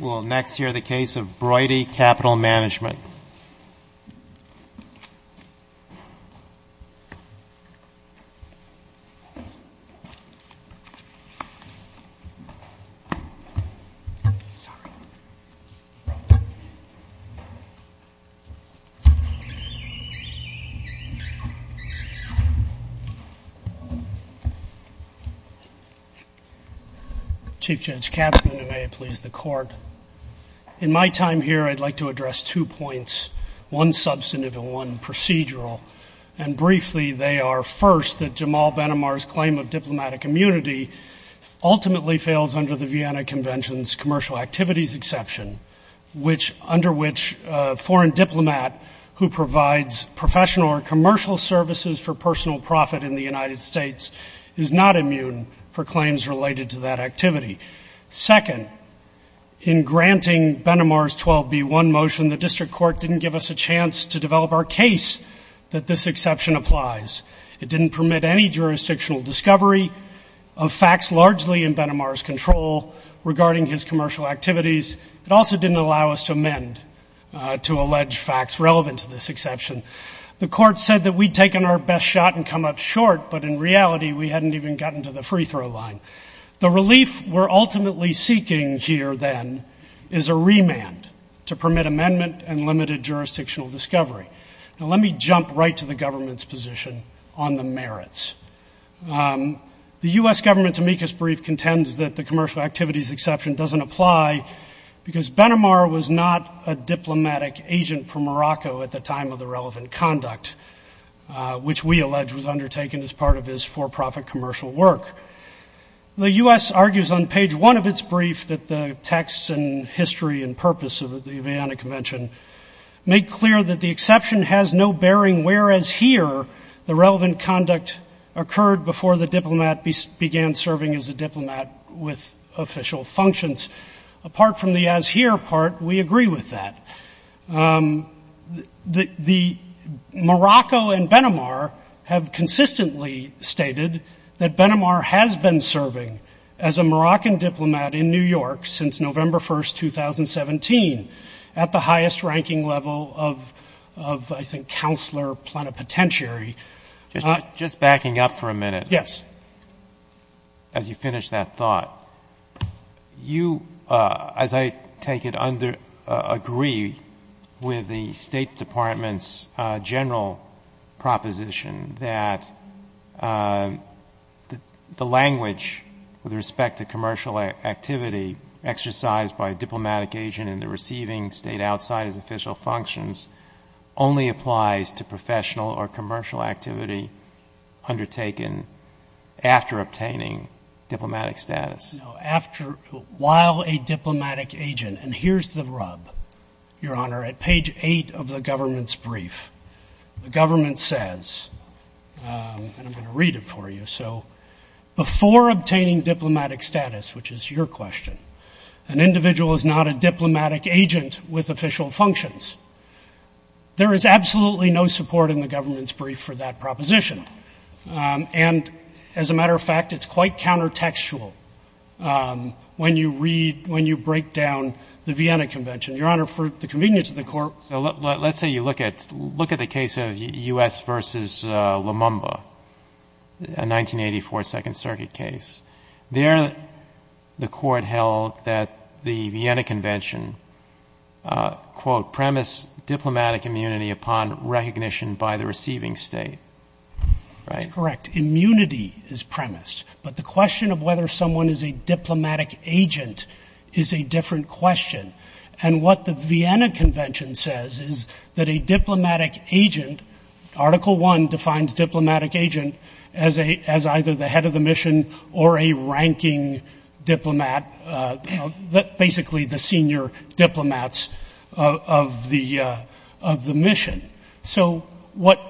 We'll next hear the case of Broidy Capital Management. Chief Judge Katzmann, and may it please the Court. In my time here, I'd like to address two points, one substantive and one procedural. And briefly, they are, first, that Jamal Ben Amar's claim of diplomatic immunity ultimately fails under the Vienna Convention's commercial activities exception, under which a foreign diplomat who provides professional or commercial services for personal profit in the United States is not immune for claims related to that activity. Second, in granting Ben Amar's 12B1 motion, the district court didn't give us a chance to develop our case that this exception applies. It didn't permit any jurisdictional discovery of facts largely in Ben Amar's control regarding his commercial activities. It also didn't allow us to amend to allege facts relevant to this exception. The court said that we'd taken our best shot and come up short, but in reality we hadn't even gotten to the free throw line. The relief we're ultimately seeking here, then, is a remand to permit amendment and limited jurisdictional discovery. Now let me jump right to the government's position on the merits. The U.S. government's amicus brief contends that the commercial activities exception doesn't apply because Ben Amar was not a diplomatic agent for Morocco at the time of the relevant conduct, which we allege was undertaken as part of his for-profit commercial work. The U.S. argues on page one of its brief that the text and history and purpose of the Vienna Convention make clear that the exception has no bearing where, as here, the relevant conduct occurred before the diplomat began serving as a diplomat with official functions. Apart from the as here part, we agree with that. Morocco and Ben Amar have consistently stated that Ben Amar has been serving as a Moroccan diplomat in New York since November 1, 2017, at the highest ranking level of, I think, counselor plenipotentiary. Just backing up for a minute. Yes. As you finish that thought, you, as I take it, agree with the State Department's general proposition that the language with respect to commercial activity exercised by a diplomatic agent in the receiving State outside his official functions only applies to professional or commercial activity undertaken after obtaining diplomatic status. No, after while a diplomatic agent. And here's the rub, Your Honor. At page eight of the government's brief, the government says, and I'm going to read it for you. So before obtaining diplomatic status, which is your question, an individual is not a diplomatic agent with official functions. There is absolutely no support in the government's brief for that proposition. And as a matter of fact, it's quite counter-textual when you read, when you break down the Vienna Convention. So let's say you look at the case of U.S. v. Lumumba, a 1984 Second Circuit case. There the court held that the Vienna Convention, quote, premised diplomatic immunity upon recognition by the receiving State. That's correct. Immunity is premised. But the question of whether someone is a diplomatic agent is a different question. And what the Vienna Convention says is that a diplomatic agent, Article I defines diplomatic agent as either the head of the mission or a ranking diplomat, basically the senior diplomats of the mission. So what,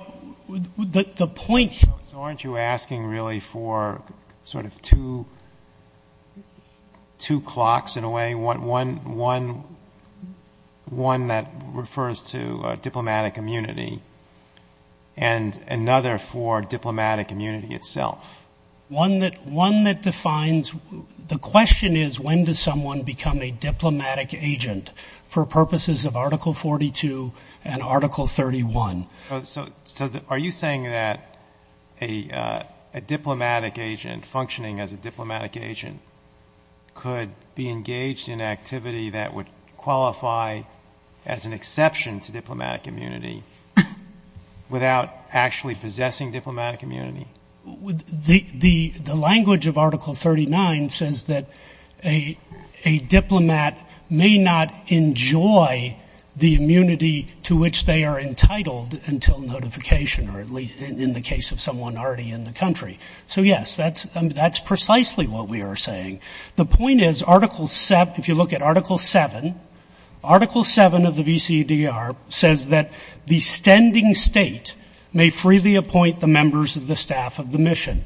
the point here. So aren't you asking really for sort of two clocks in a way, one that refers to diplomatic immunity and another for diplomatic immunity itself? One that defines, the question is, when does someone become a diplomatic agent for purposes of Article 42 and Article 31? So are you saying that a diplomatic agent, functioning as a diplomatic agent, could be engaged in activity that would qualify as an exception to diplomatic immunity without actually possessing diplomatic immunity? The language of Article 39 says that a diplomat may not enjoy the immunity to which they are entitled until notification, or at least in the case of someone already in the country. So, yes, that's precisely what we are saying. The point is, if you look at Article VII, Article VII of the VCDR says that the standing state may freely appoint the members of the staff of the mission.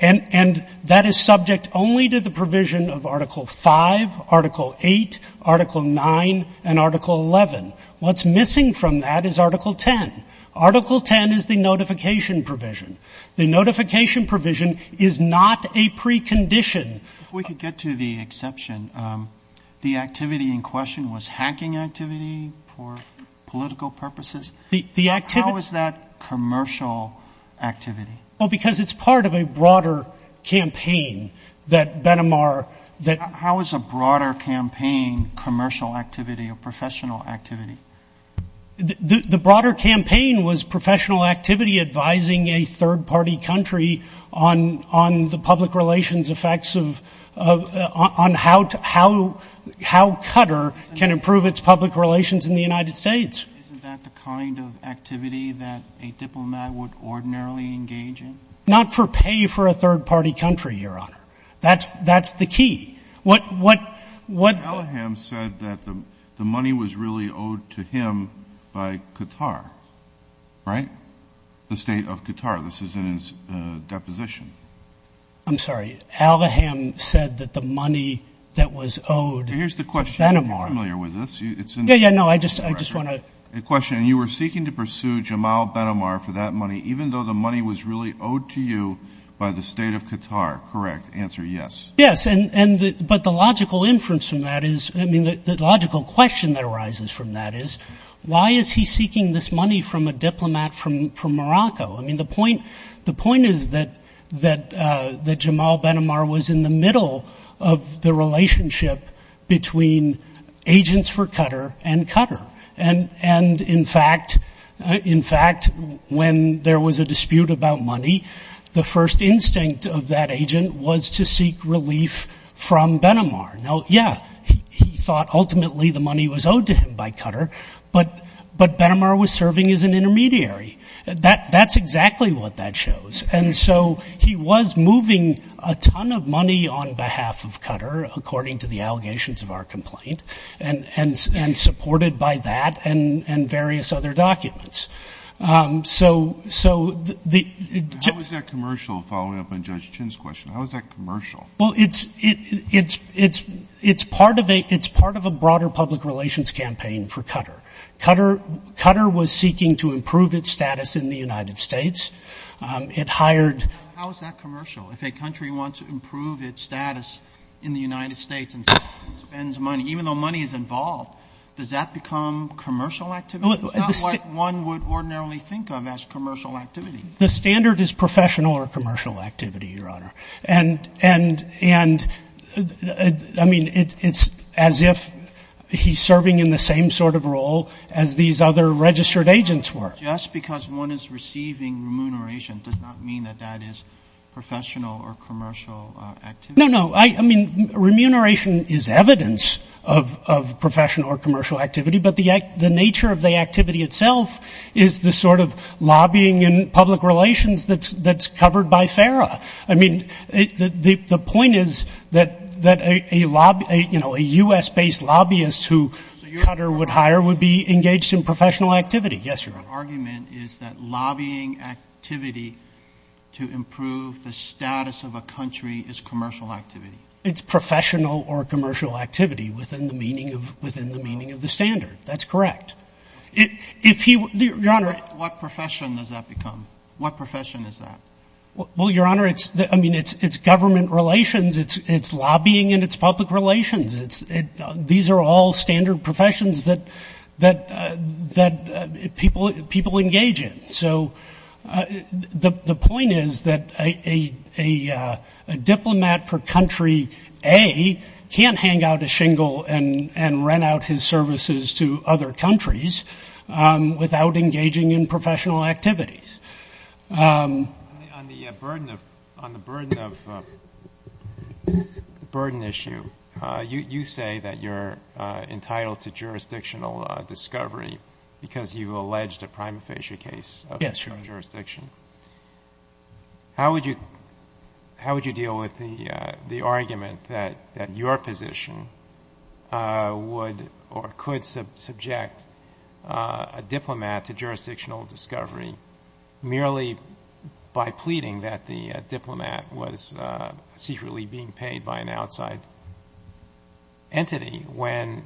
And that is subject only to the provision of Article V, Article VIII, Article IX, and Article XI. What's missing from that is Article X. Article X is the notification provision. The notification provision is not a precondition. If we could get to the exception, the activity in question was hacking activity for political purposes? How is that commercial activity? Well, because it's part of a broader campaign that Benamar that ---- How is a broader campaign commercial activity or professional activity? The broader campaign was professional activity advising a third-party country on the public relations effects of ---- on how Qatar can improve its public relations in the United States. Isn't that the kind of activity that a diplomat would ordinarily engage in? Not for pay for a third-party country, Your Honor. That's the key. What ---- Al-Aham said that the money was really owed to him by Qatar, right? The state of Qatar. This is in his deposition. I'm sorry. Al-Aham said that the money that was owed ---- Here's the question. You're familiar with this. Yeah, yeah, no, I just want to ---- The question, you were seeking to pursue Jamal Benamar for that money, even though the money was really owed to you by the state of Qatar, correct? Answer, yes. Yes, but the logical inference from that is ---- I mean, the logical question that arises from that is why is he seeking this money from a diplomat from Morocco? I mean, the point is that Jamal Benamar was in the middle of the relationship between agents for Qatar and Qatar. And, in fact, when there was a dispute about money, the first instinct of that agent was to seek relief from Benamar. Now, yeah, he thought ultimately the money was owed to him by Qatar, but Benamar was serving as an intermediary. That's exactly what that shows. And so he was moving a ton of money on behalf of Qatar, according to the allegations of our complaint, and supported by that and various other documents. So the ---- How is that commercial, following up on Judge Chin's question, how is that commercial? Well, it's part of a broader public relations campaign for Qatar. Qatar was seeking to improve its status in the United States. It hired ---- How is that commercial? If a country wants to improve its status in the United States and spends money, even though money is involved, does that become commercial activity? It's not what one would ordinarily think of as commercial activity. The standard is professional or commercial activity, Your Honor. And, I mean, it's as if he's serving in the same sort of role as these other registered agents were. Just because one is receiving remuneration does not mean that that is professional or commercial activity. No, no. I mean, remuneration is evidence of professional or commercial activity, but the nature of the activity itself is the sort of lobbying and public relations that's covered by FARA. I mean, the point is that a U.S.-based lobbyist who Qatar would hire would be engaged in professional activity. Yes, Your Honor. Your argument is that lobbying activity to improve the status of a country is commercial activity. It's professional or commercial activity within the meaning of the standard. That's correct. If he ---- Your Honor. What profession does that become? What profession is that? Well, Your Honor, I mean, it's government relations. It's lobbying and it's public relations. These are all standard professions that people engage in. So the point is that a diplomat for country A can't hang out a shingle and rent out his services to other countries without engaging in professional activities. On the burden of burden issue, you say that you're entitled to jurisdictional discovery because you alleged a prima facie case of jurisdiction. Yes, Your Honor. How would you deal with the argument that your position would or could subject a diplomat to jurisdictional discovery merely by pleading that the diplomat was secretly being paid by an outside entity when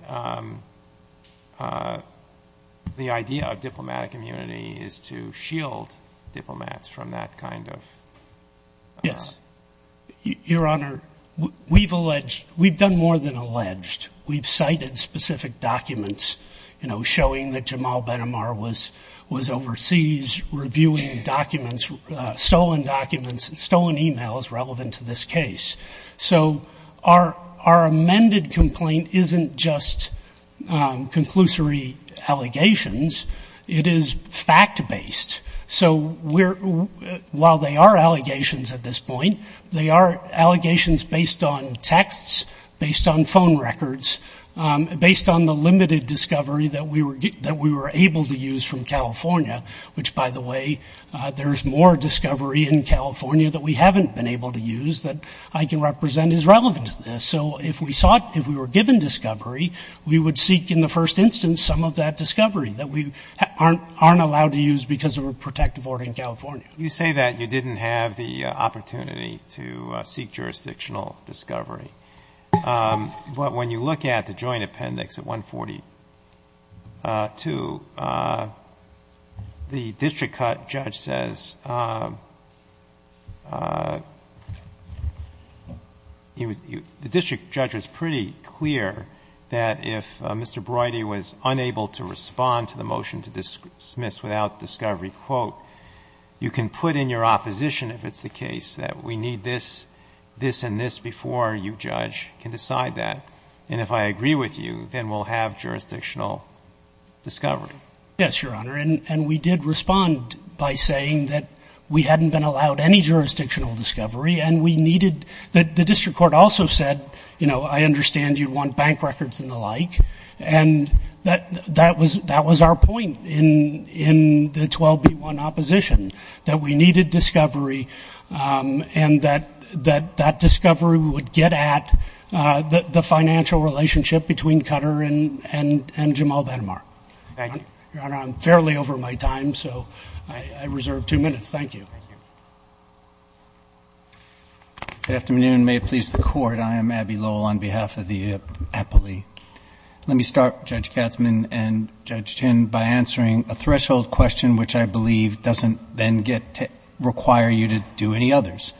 the idea of diplomatic immunity is to shield diplomats from that kind of ---- Yes. Your Honor, we've done more than alleged. We've cited specific documents, you know, showing that Jamal Ben Amar was overseas reviewing documents, stolen documents, stolen e-mails relevant to this case. So our amended complaint isn't just conclusory allegations. It is fact-based. So while they are allegations at this point, they are allegations based on texts, based on phone records, based on the limited discovery that we were able to use from California, which, by the way, there's more discovery in California that we haven't been able to use that I can represent as relevant to this. So if we sought, if we were given discovery, we would seek in the first instance some of that discovery that we aren't allowed to use because of a protective order in California. You say that you didn't have the opportunity to seek jurisdictional discovery. But when you look at the joint appendix at 142, the district judge says he was ---- the district judge was pretty clear that if Mr. Broidey was unable to respond to the motion to dismiss without discovery, quote, you can put in your opposition, if it's the case, that we need this, this, and this before you judge, can decide that. And if I agree with you, then we'll have jurisdictional discovery. Yes, Your Honor. And we did respond by saying that we hadn't been allowed any jurisdictional discovery and we needed ---- the district court also said, you know, I understand you want bank records and the like. And that was our point in the 12B1 opposition, that we needed discovery and that that discovery would get at the financial relationship between Cutter and Jamal Ben Amar. Thank you. Your Honor, I'm fairly over my time, so I reserve two minutes. Thank you. Good afternoon. May it please the Court. I am Abbey Lowell on behalf of the appellee. Let me start, Judge Katzmann and Judge Tinn, by answering a threshold question which I believe doesn't then get to require you to do any others.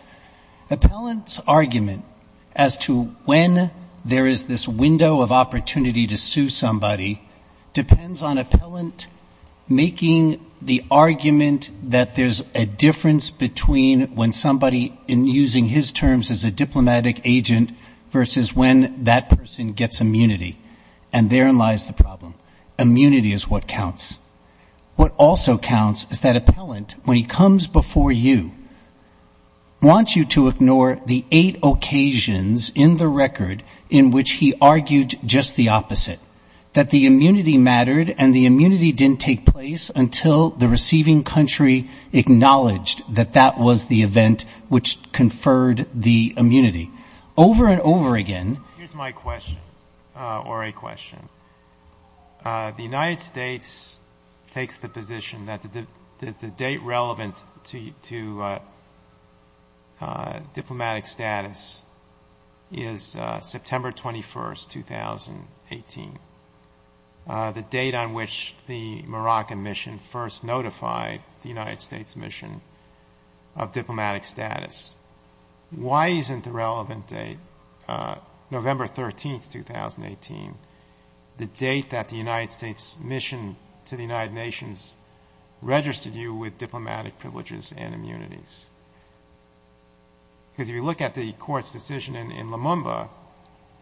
Appellant's argument as to when there is this window of opportunity to sue somebody depends on appellant making the argument that there's a difference between when somebody, in using his terms as a diplomatic agent, versus when that person gets immunity. And therein lies the problem. Immunity is what counts. What also counts is that appellant, when he comes before you, wants you to ignore the eight occasions in the record in which he argued just the opposite, that the immunity mattered and the immunity didn't take place until the receiving country acknowledged that that was the event which conferred the immunity. Over and over again. Here's my question, or a question. The United States takes the position that the date relevant to diplomatic status is September 21, 2018, the date on which the Moroccan mission first notified the United States mission of diplomatic status. Why isn't the relevant date, November 13, 2018, the date that the United States mission to the United Nations registered you with diplomatic privileges and immunities? Because if you look at the court's decision in Lumumba,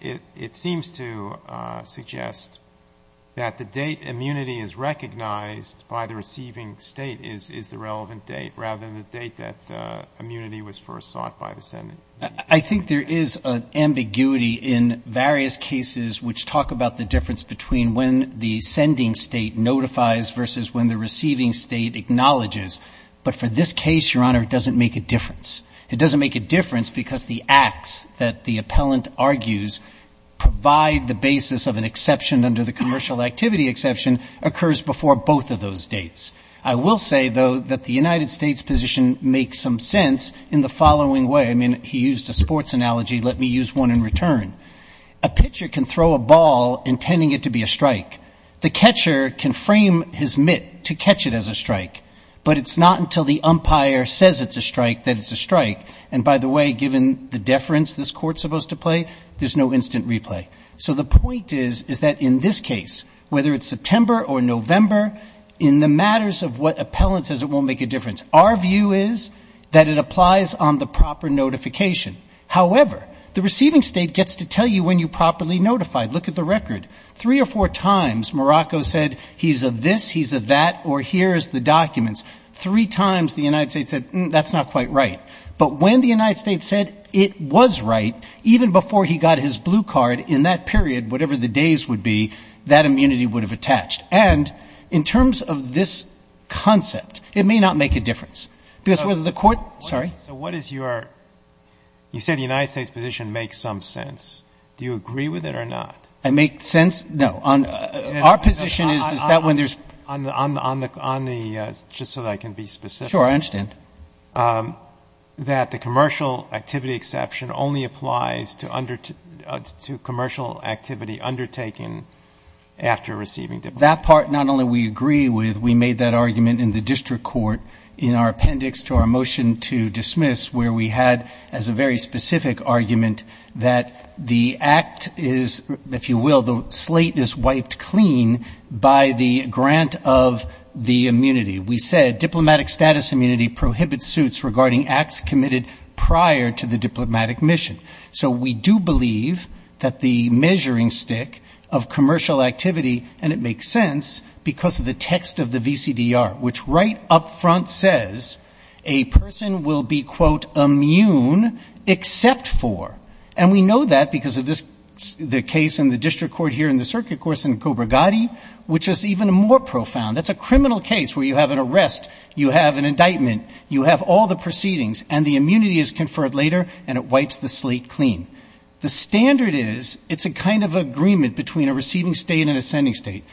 it seems to suggest that the date immunity is recognized by the receiving State is the relevant date, rather than the date that immunity was first sought by the Senate. I think there is an ambiguity in various cases which talk about the difference between when the sending State notifies versus when the receiving State acknowledges. But for this case, Your Honor, it doesn't make a difference. It doesn't make a difference because the acts that the appellant argues provide the basis of an exception under the commercial activity exception occurs before both of those dates. I will say, though, that the United States position makes some sense in the following way. I mean, he used a sports analogy, let me use one in return. A pitcher can throw a ball intending it to be a strike. The catcher can frame his mitt to catch it as a strike, but it's not until the umpire says it's a strike that it's a strike. And by the way, given the deference this Court's supposed to play, there's no instant replay. So the point is, is that in this case, whether it's September or November, in the matters of what appellant says, it won't make a difference. Our view is that it applies on the proper notification. However, the receiving State gets to tell you when you properly notified. Look at the record. Three or four times Morocco said he's of this, he's of that, or here's the documents. Three times the United States said that's not quite right. But when the United States said it was right, even before he got his blue card in that period, whatever the days would be, that immunity would have attached. And in terms of this concept, it may not make a difference. Because whether the Court sorry. So what is your you said the United States position makes some sense. Do you agree with it or not? I make sense. No. On our position is that when there's on the on the on the just so that I can be specific. Sure, I understand that the commercial activity exception only applies to under to commercial activity undertaken after receiving that part. Not only we agree with we made that argument in the district court in our appendix to our motion to dismiss where we had as a very specific argument that the act is, if you will, the slate is wiped clean by the grant of the immunity. We said diplomatic status immunity prohibits suits regarding acts committed prior to the diplomatic mission. So we do believe that the measuring stick of commercial activity. And it makes sense because of the text of the VCDR, which right up front says a person will be, quote, immune except for. And we know that because of this, the case in the district court here in the circuit course in Cobra Gotti, which is even more profound. That's a criminal case where you have an arrest, you have an indictment, you have all the proceedings and the immunity is conferred later and it wipes the slate clean. The standard is it's a kind of agreement between a receiving state and a sending state.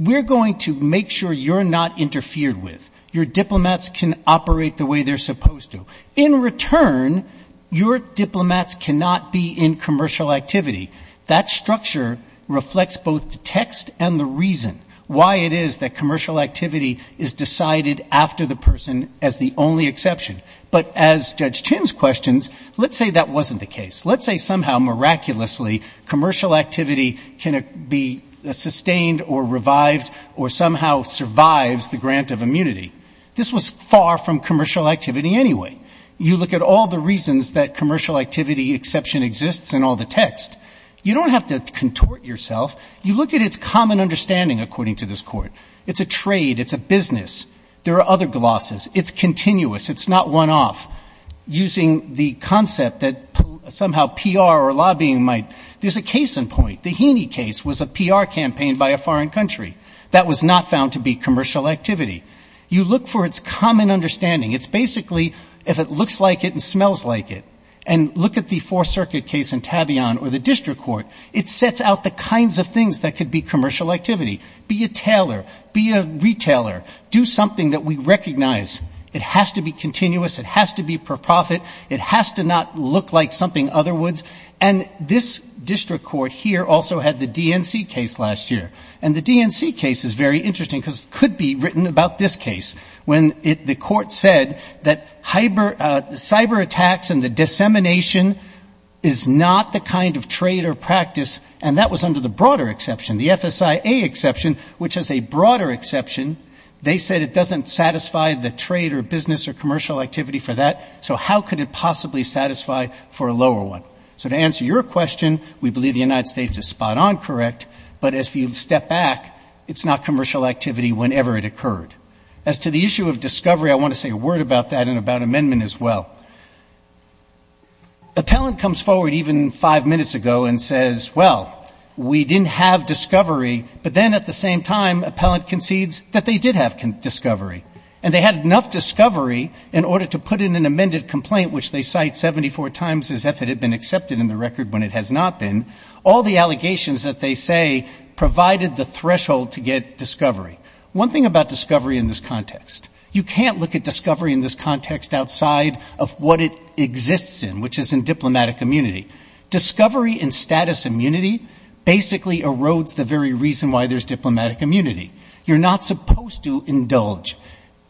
We're going to make sure you're not interfered with. Your diplomats can operate the way they're supposed to. In return, your diplomats cannot be in commercial activity. That structure reflects both the text and the reason why it is that commercial activity is decided after the person as the only exception. But as Judge Chin's questions, let's say that wasn't the case. Let's say somehow miraculously commercial activity can be sustained or revived or somehow survives the grant of immunity. This was far from commercial activity anyway. You look at all the reasons that commercial activity exception exists in all the text. You don't have to contort yourself. You look at its common understanding, according to this court. It's a trade. It's a business. There are other glosses. It's continuous. It's not one-off. Using the concept that somehow PR or lobbying might, there's a case in point. The Heaney case was a PR campaign by a foreign country. That was not found to be commercial activity. You look for its common understanding. It's basically if it looks like it and smells like it. And look at the Fourth Circuit case in Tabion or the district court. It sets out the kinds of things that could be commercial activity. Be a tailor. Be a retailer. Do something that we recognize. It has to be continuous. It has to be for profit. It has to not look like something other woulds. And this district court here also had the DNC case last year. And the DNC case is very interesting, because it could be written about this case. When the court said that cyber attacks and the dissemination is not the kind of trade or practice, and that was under the broader exception, the FSIA exception, which is a broader exception, they said it doesn't satisfy the trade or business or commercial activity for that. So how could it possibly satisfy for a lower one? So to answer your question, we believe the United States is spot on correct, but if you step back, it's not commercial activity whenever it occurred. As to the issue of discovery, I want to say a word about that and about amendment as well. Appellant comes forward even five minutes ago and says, well, we didn't have discovery, but then at the same time, appellant concedes that they did have discovery. And they had enough discovery in order to put in an amended complaint, which they cite 74 times as if it had been accepted in the record when it has not been. All the allegations that they say provided the threshold to get discovery. One thing about discovery in this context, you can't look at discovery in this context outside of what it exists in, which is in diplomatic immunity. Discovery in status immunity basically erodes the very reason why there's diplomatic immunity. You're not supposed to indulge.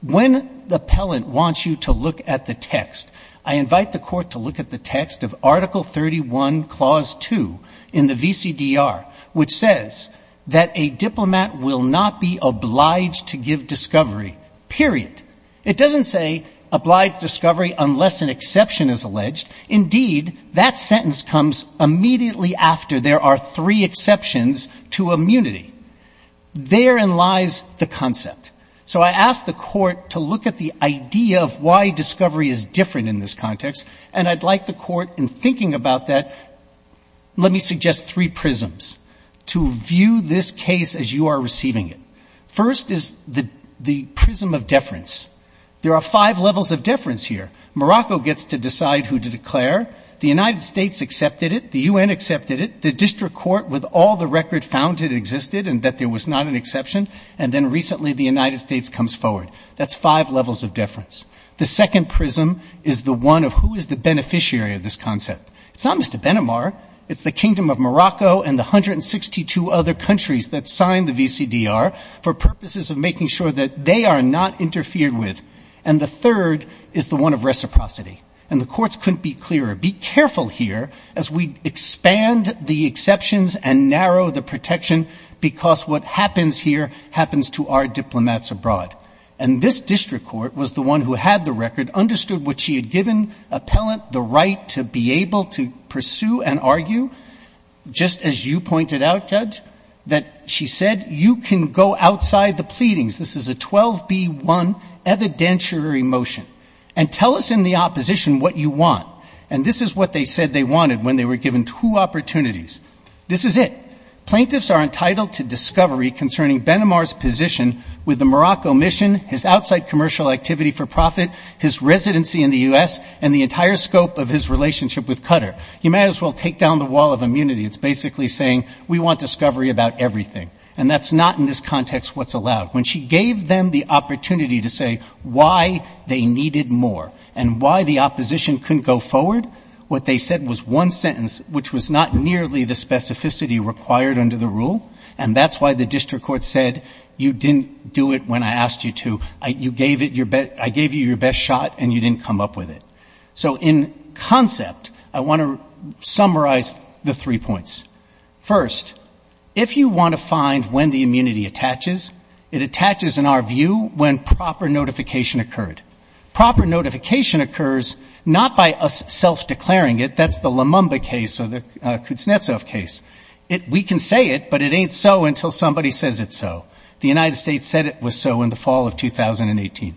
When the appellant wants you to look at the text, I invite the court to look at the text of Article 31, Clause 2 in the VCDR, which says that a diplomat will not be obliged to give discovery, period. It doesn't say obliged discovery unless an exception is alleged. Indeed, that sentence comes immediately after there are three exceptions to immunity. Therein lies the concept. So I ask the court to look at the idea of why discovery is different in this context, and I'd like the court, in thinking about that, let me suggest three prisms to view this case as you are receiving it. First is the prism of deference. There are five levels of deference here. Morocco gets to decide who to declare, the United States accepted it, the U.N. accepted it, the district court with all the record found it existed and that there was not an exception, and then recently the United States comes forward. That's five levels of deference. The second prism is the one of who is the beneficiary of this concept. It's not Mr. Benamar. It's the kingdom of Morocco and the 162 other countries that signed the VCDR for purposes of making sure that they are not interfered with. And the third is the one of reciprocity. And the courts couldn't be clearer, be careful here as we expand the exceptions and narrow the protection, because what happens here happens to our diplomats abroad. And this district court was the one who had the record, understood what she had given appellant the right to be able to pursue and apply for the VCDR. And I can argue, just as you pointed out, Judge, that she said you can go outside the pleadings, this is a 12B1 evidentiary motion, and tell us in the opposition what you want. And this is what they said they wanted when they were given two opportunities. This is it. Plaintiffs are entitled to discovery concerning Benamar's position with the Morocco mission, his outside commercial activity for profit, his residency in the U.S. and the entire scope of his relationship with Qatar. You might as well take down the wall of immunity. It's basically saying we want discovery about everything. And that's not in this context what's allowed. When she gave them the opportunity to say why they needed more and why the opposition couldn't go forward, what they said was one sentence, which was not nearly the specificity required under the rule, and that's why the district court said you didn't do it when I asked you to. I gave you your best shot and you didn't come up with it. So let me summarize the three points. First, if you want to find when the immunity attaches, it attaches in our view when proper notification occurred. Proper notification occurs not by us self-declaring it, that's the Lumumba case or the Kuznetsov case. We can say it, but it ain't so until somebody says it's so. The United States said it was so in the fall of 2018.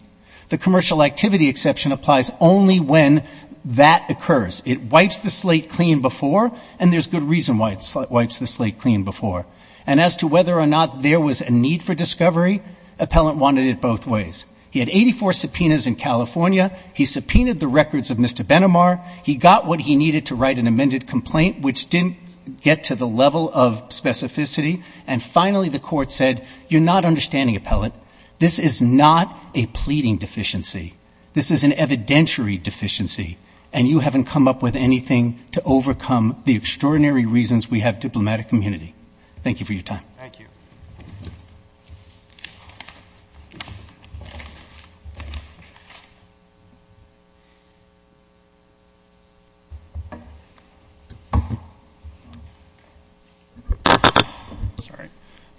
The commercial activity exception applies only when that occurs. It wipes the slate clean before, and there's good reason why it wipes the slate clean before. And as to whether or not there was a need for discovery, Appellant wanted it both ways. He had 84 subpoenas in California, he subpoenaed the records of Mr. Benomar, he got what he needed to write an amended complaint, which didn't get to the level of specificity, and finally the court said you're not understanding, Appellant, this is not a plea. It's a pleading deficiency, this is an evidentiary deficiency, and you haven't come up with anything to overcome the extraordinary reasons we have diplomatic immunity. Thank you for your time. Thank you.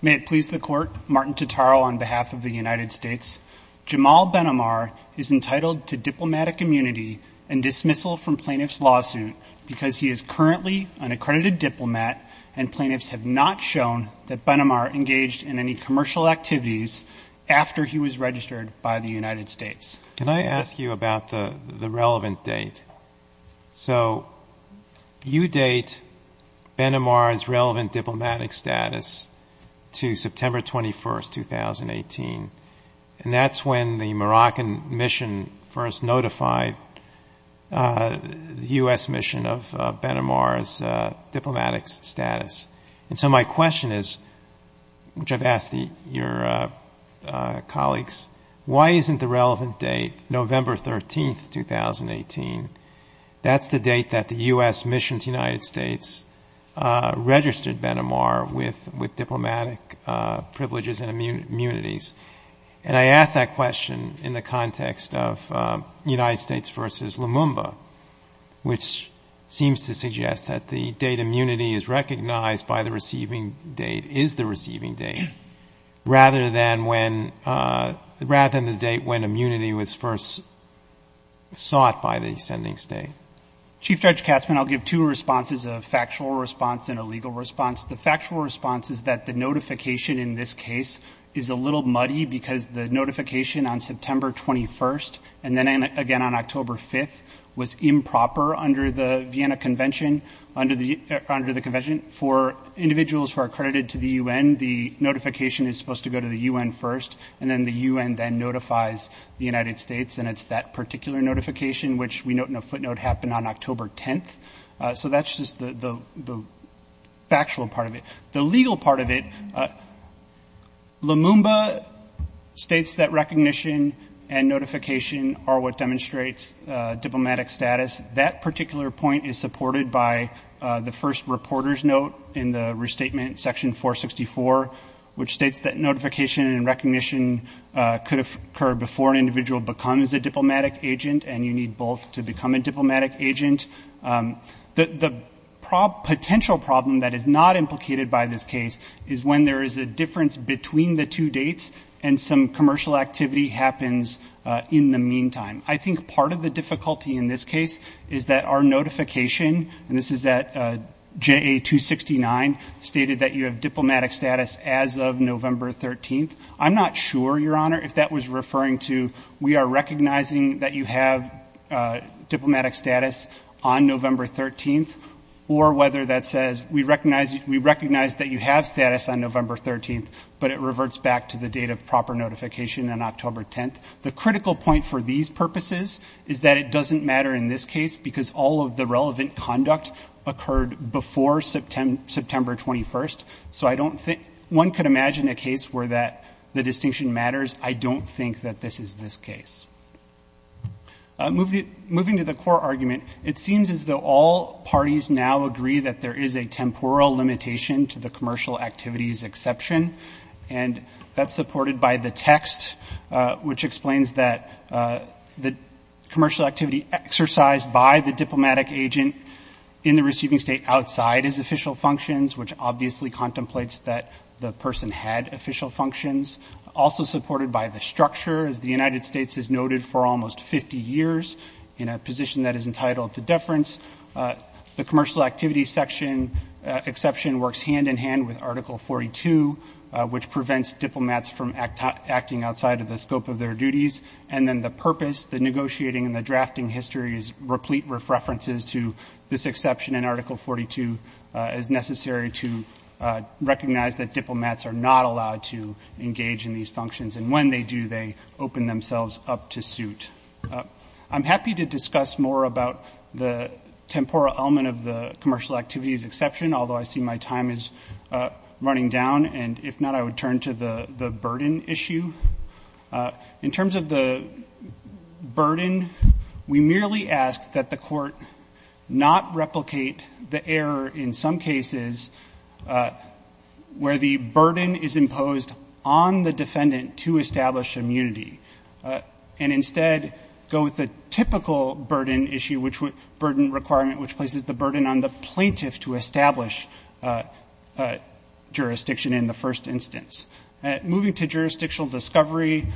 May it please the Court, Martin Totaro on behalf of the United States. Jamal Benomar is entitled to diplomatic immunity and dismissal from plaintiff's lawsuit because he is currently an accredited diplomat, and plaintiffs have not shown that Biden's diplomatic immunity has been met. Can I ask you about the relevant date? So you date Benomar's relevant diplomatic status to September 21, 2018, and that's when the Moroccan mission first notified the U.S. mission of Benomar's diplomatic status. And so my question is, which I've asked your colleagues, why isn't the relevant date November 13, 2018? That's the date that the U.S. mission to the United States registered Benomar with diplomatic privileges and immunities. And I ask that question in the context of United States v. Lumumba, which seems to suggest that the date immunity is recognized by the U.S. mission is the receiving date, rather than the date when immunity was first sought by the sending state. Chief Judge Katzmann, I'll give two responses, a factual response and a legal response. The factual response is that the notification in this case is a little muddy because the notification on September 21, and then again on October 5, was improper under the Vienna Convention. For individuals who are accredited to the U.N., the notification is supposed to go to the U.N. first, and then the U.N. then notifies the United States, and it's that particular notification, which we note in a footnote happened on October 10. So that's just the factual part of it. The legal part of it, Lumumba states that recognition and notification are what demonstrates diplomatic status. That particular point is supported by the first reporter's note in the restatement section 464, which states that notification and recognition could occur before an individual becomes a diplomatic agent, and you need both to become a diplomatic agent. The potential problem that is not implicated by this case is when there is a difference between the two dates, and some commercial activity happens in the meantime. I think part of the difficulty in this case is that our notification, and this is at JA-269, stated that you have diplomatic status as of November 13. I'm not sure, Your Honor, if that was referring to we are recognizing that you have diplomatic status on November 13, or whether that says we recognize that you have status on November 13, but it reverts back to the date of proper notification on October 10. The critical point for these purposes is that it doesn't matter in this case, because all of the relevant conduct occurred before September 21, so one could imagine a case where the distinction matters. I don't think that this is this case. Moving to the core argument, it seems as though all parties now agree that there is a temporal limitation to the commercial activities exception, and that's supported by the text, which explains that the commercial activity exercised by the diplomatic agent in the receiving state outside is official functions, which obviously contemplates that the person had official functions. Also supported by the structure, as the United States has noted for almost 50 years, in a position that is entitled to deference, the commercial activity section exception works hand-in-hand with Article 42, which prevents diplomats from acting outside of the scope of their duties. And then the purpose, the negotiating, and the drafting history is replete with references to this exception in Article 42, as necessary to recognize that diplomats are not allowed to engage in these functions, and when they do, they open themselves up to suit. I'm happy to discuss more about the temporal element of the commercial activities exception, although I see my time is running down, and if not, I would turn to the burden issue. In terms of the burden, we merely ask that the court not replicate the error in some cases where the burden is imposed on the defendant to establish immunity, and instead go with the typical burden requirement, which places the burden on the plaintiff to establish jurisdiction in the first instance. Moving to jurisdictional discovery,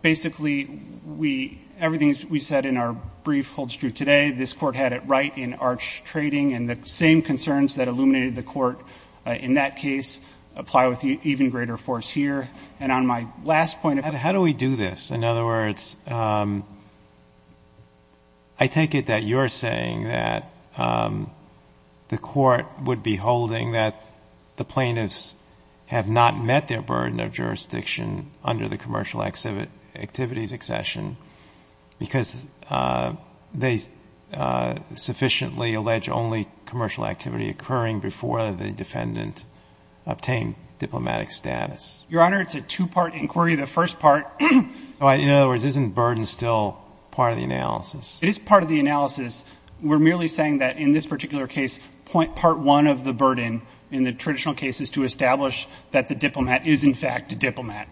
basically we, everything we said in our brief holds true today. This Court had it right in Arch Trading, and the same concerns that illuminated the Court in that case apply with even greater force here. And on my last point, how do we do this? In other words, I take it that you're saying that the Court would be holding that the plaintiffs have not met their burden. I'm not saying that they have not met their burden of jurisdiction under the commercial activities exception, because they sufficiently allege only commercial activity occurring before the defendant obtained diplomatic status. Your Honor, it's a two-part inquiry. The first part, in other words, isn't burden still part of the analysis? It is part of the analysis. We're merely saying that in this particular case, part one of the burden in the traditional case is to establish that the diplomat is, in fact, a diplomat.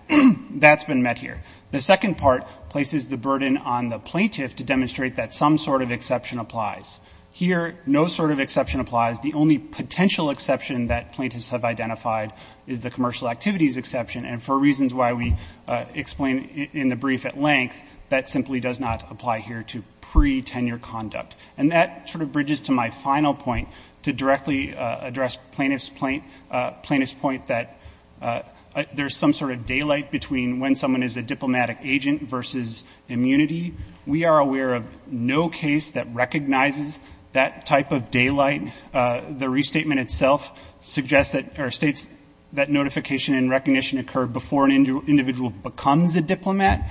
That's been met here. The second part places the burden on the plaintiff to demonstrate that some sort of exception applies. Here, no sort of exception applies. The only potential exception that plaintiffs have identified is the commercial activities exception. And for reasons why we explain in the brief at length, that simply does not apply here to pre-tenure conduct. And that sort of bridges to my final point, to directly address plaintiff's point that there's some sort of daylight between when someone is a diplomatic agent versus immunity. We are aware of no case that recognizes that type of daylight. The restatement itself suggests that, or states that notification and recognition occur before an individual becomes a diplomat.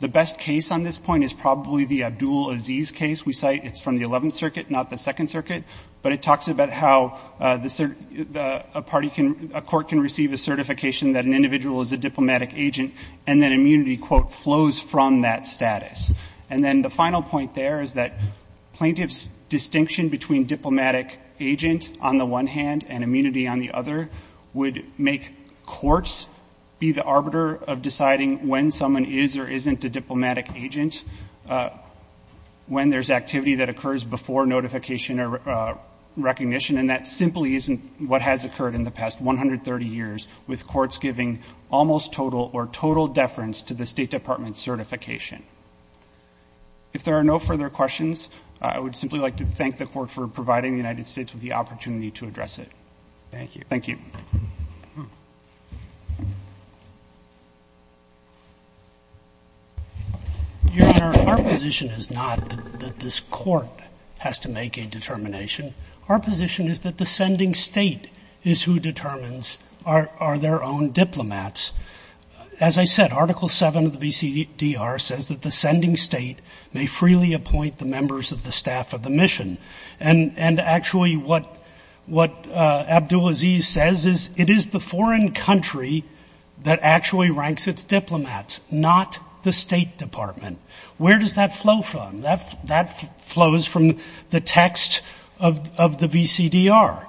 The best case on this point is probably the Abdul Aziz case we cite. It's from the 11th Circuit, not the 2nd Circuit, but it talks about how a court can receive a certification that an individual is a diplomatic agent, and that immunity, quote, flows from that status. And then the final point there is that plaintiff's distinction between diplomatic agent on the one hand and immunity on the other would make courts be the arbiter of deciding when someone is or isn't a diplomatic agent, when there's activity that occurs before notification or recognition. And that simply isn't what has occurred in the past 130 years, with courts giving almost total or total immunity to an individual. It's a total deference to the State Department's certification. If there are no further questions, I would simply like to thank the Court for providing the United States with the opportunity to address it. Thank you. Your Honor, our position is not that this Court has to make a determination. Our position is that the sending State is who determines, are their own diplomats. As you said, Article 7 of the VCDR says that the sending State may freely appoint the members of the staff of the mission. And actually what Abdulaziz says is it is the foreign country that actually ranks its diplomats, not the State Department. Where does that flow from? That flows from the text of the VCDR.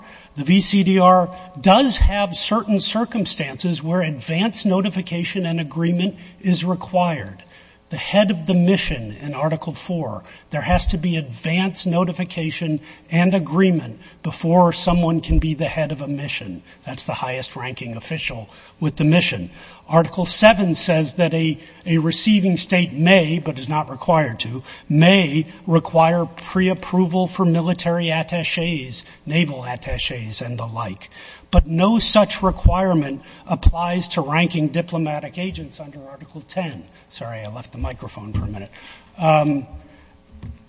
The head of the mission in Article 4, there has to be advance notification and agreement before someone can be the head of a mission. That's the highest ranking official with the mission. Article 7 says that a receiving State may, but is not required to, may require preapproval for military attachés, naval attachés, and the like. But no such requirement applies to ranking diplomatic agents under Article 10. Sorry, I left the microphone for a minute.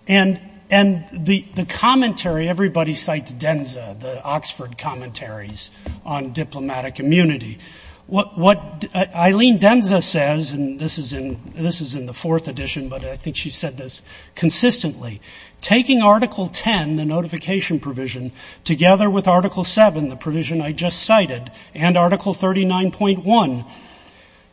And the commentary, everybody cites DENSA, the Oxford Commentaries on Diplomatic Immunity. What Eileen DENSA says, and this is in the fourth edition, but I think she's said this consistently, taking Article 10, the notification provision, together with Article 7, the provision I just cited, and Article 39.1,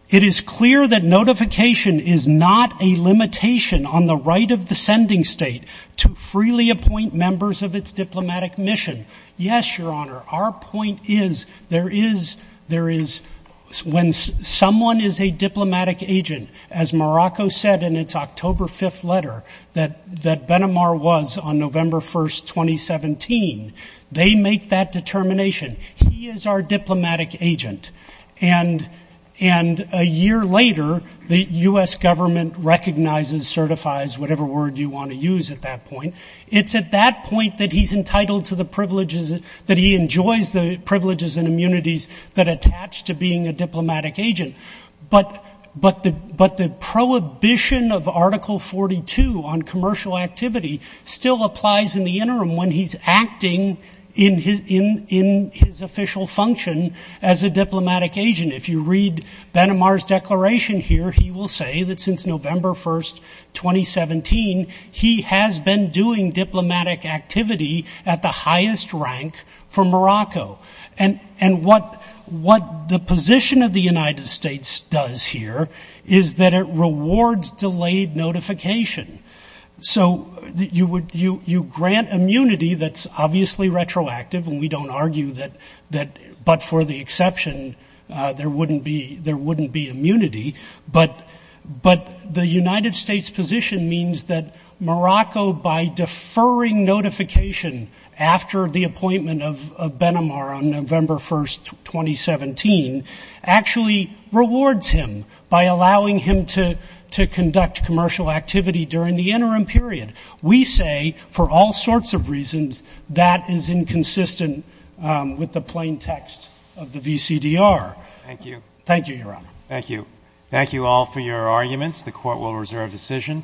it is clear that notification is not a limitation on the right of the sending State to freely appoint members of its diplomatic mission. Yes, Your Honor, our point is there is, when someone is a diplomatic agent, as Morocco said in its October 5th letter, that Ben Amar was on November 1st, 2017, they make that determination. He is our diplomatic agent. And a year later, the U.S. government recognizes, certifies, whatever word you want to use at that point. It's at that point that he's entitled to the privileges, that he enjoys the privileges and immunities that attach to being a diplomatic agent. But the prohibition of Article 42 on commercial activity still applies in the interim when he's acting in his official function as a diplomatic agent. If you read Ben Amar's declaration here, he will say that since November 1st, 2017, he has been doing diplomatic activity at the highest rank for Morocco. And what the position of the United States does here is that it rewards delayed notification. So you grant immunity that's obviously retroactive, and we don't argue that, but for the exception, there wouldn't be immunity. But the United States position means that Morocco, by deferring notification after the appointment of Ben Amar on November 1st, 2017, actually rewards him by allowing him to conduct commercial activity during the interim period. We say, for all sorts of reasons, that is inconsistent with the plain text of the VCDR. Thank you, Your Honor. Thank you. Thank you all for your arguments. The Court will reserve decision. Thank you.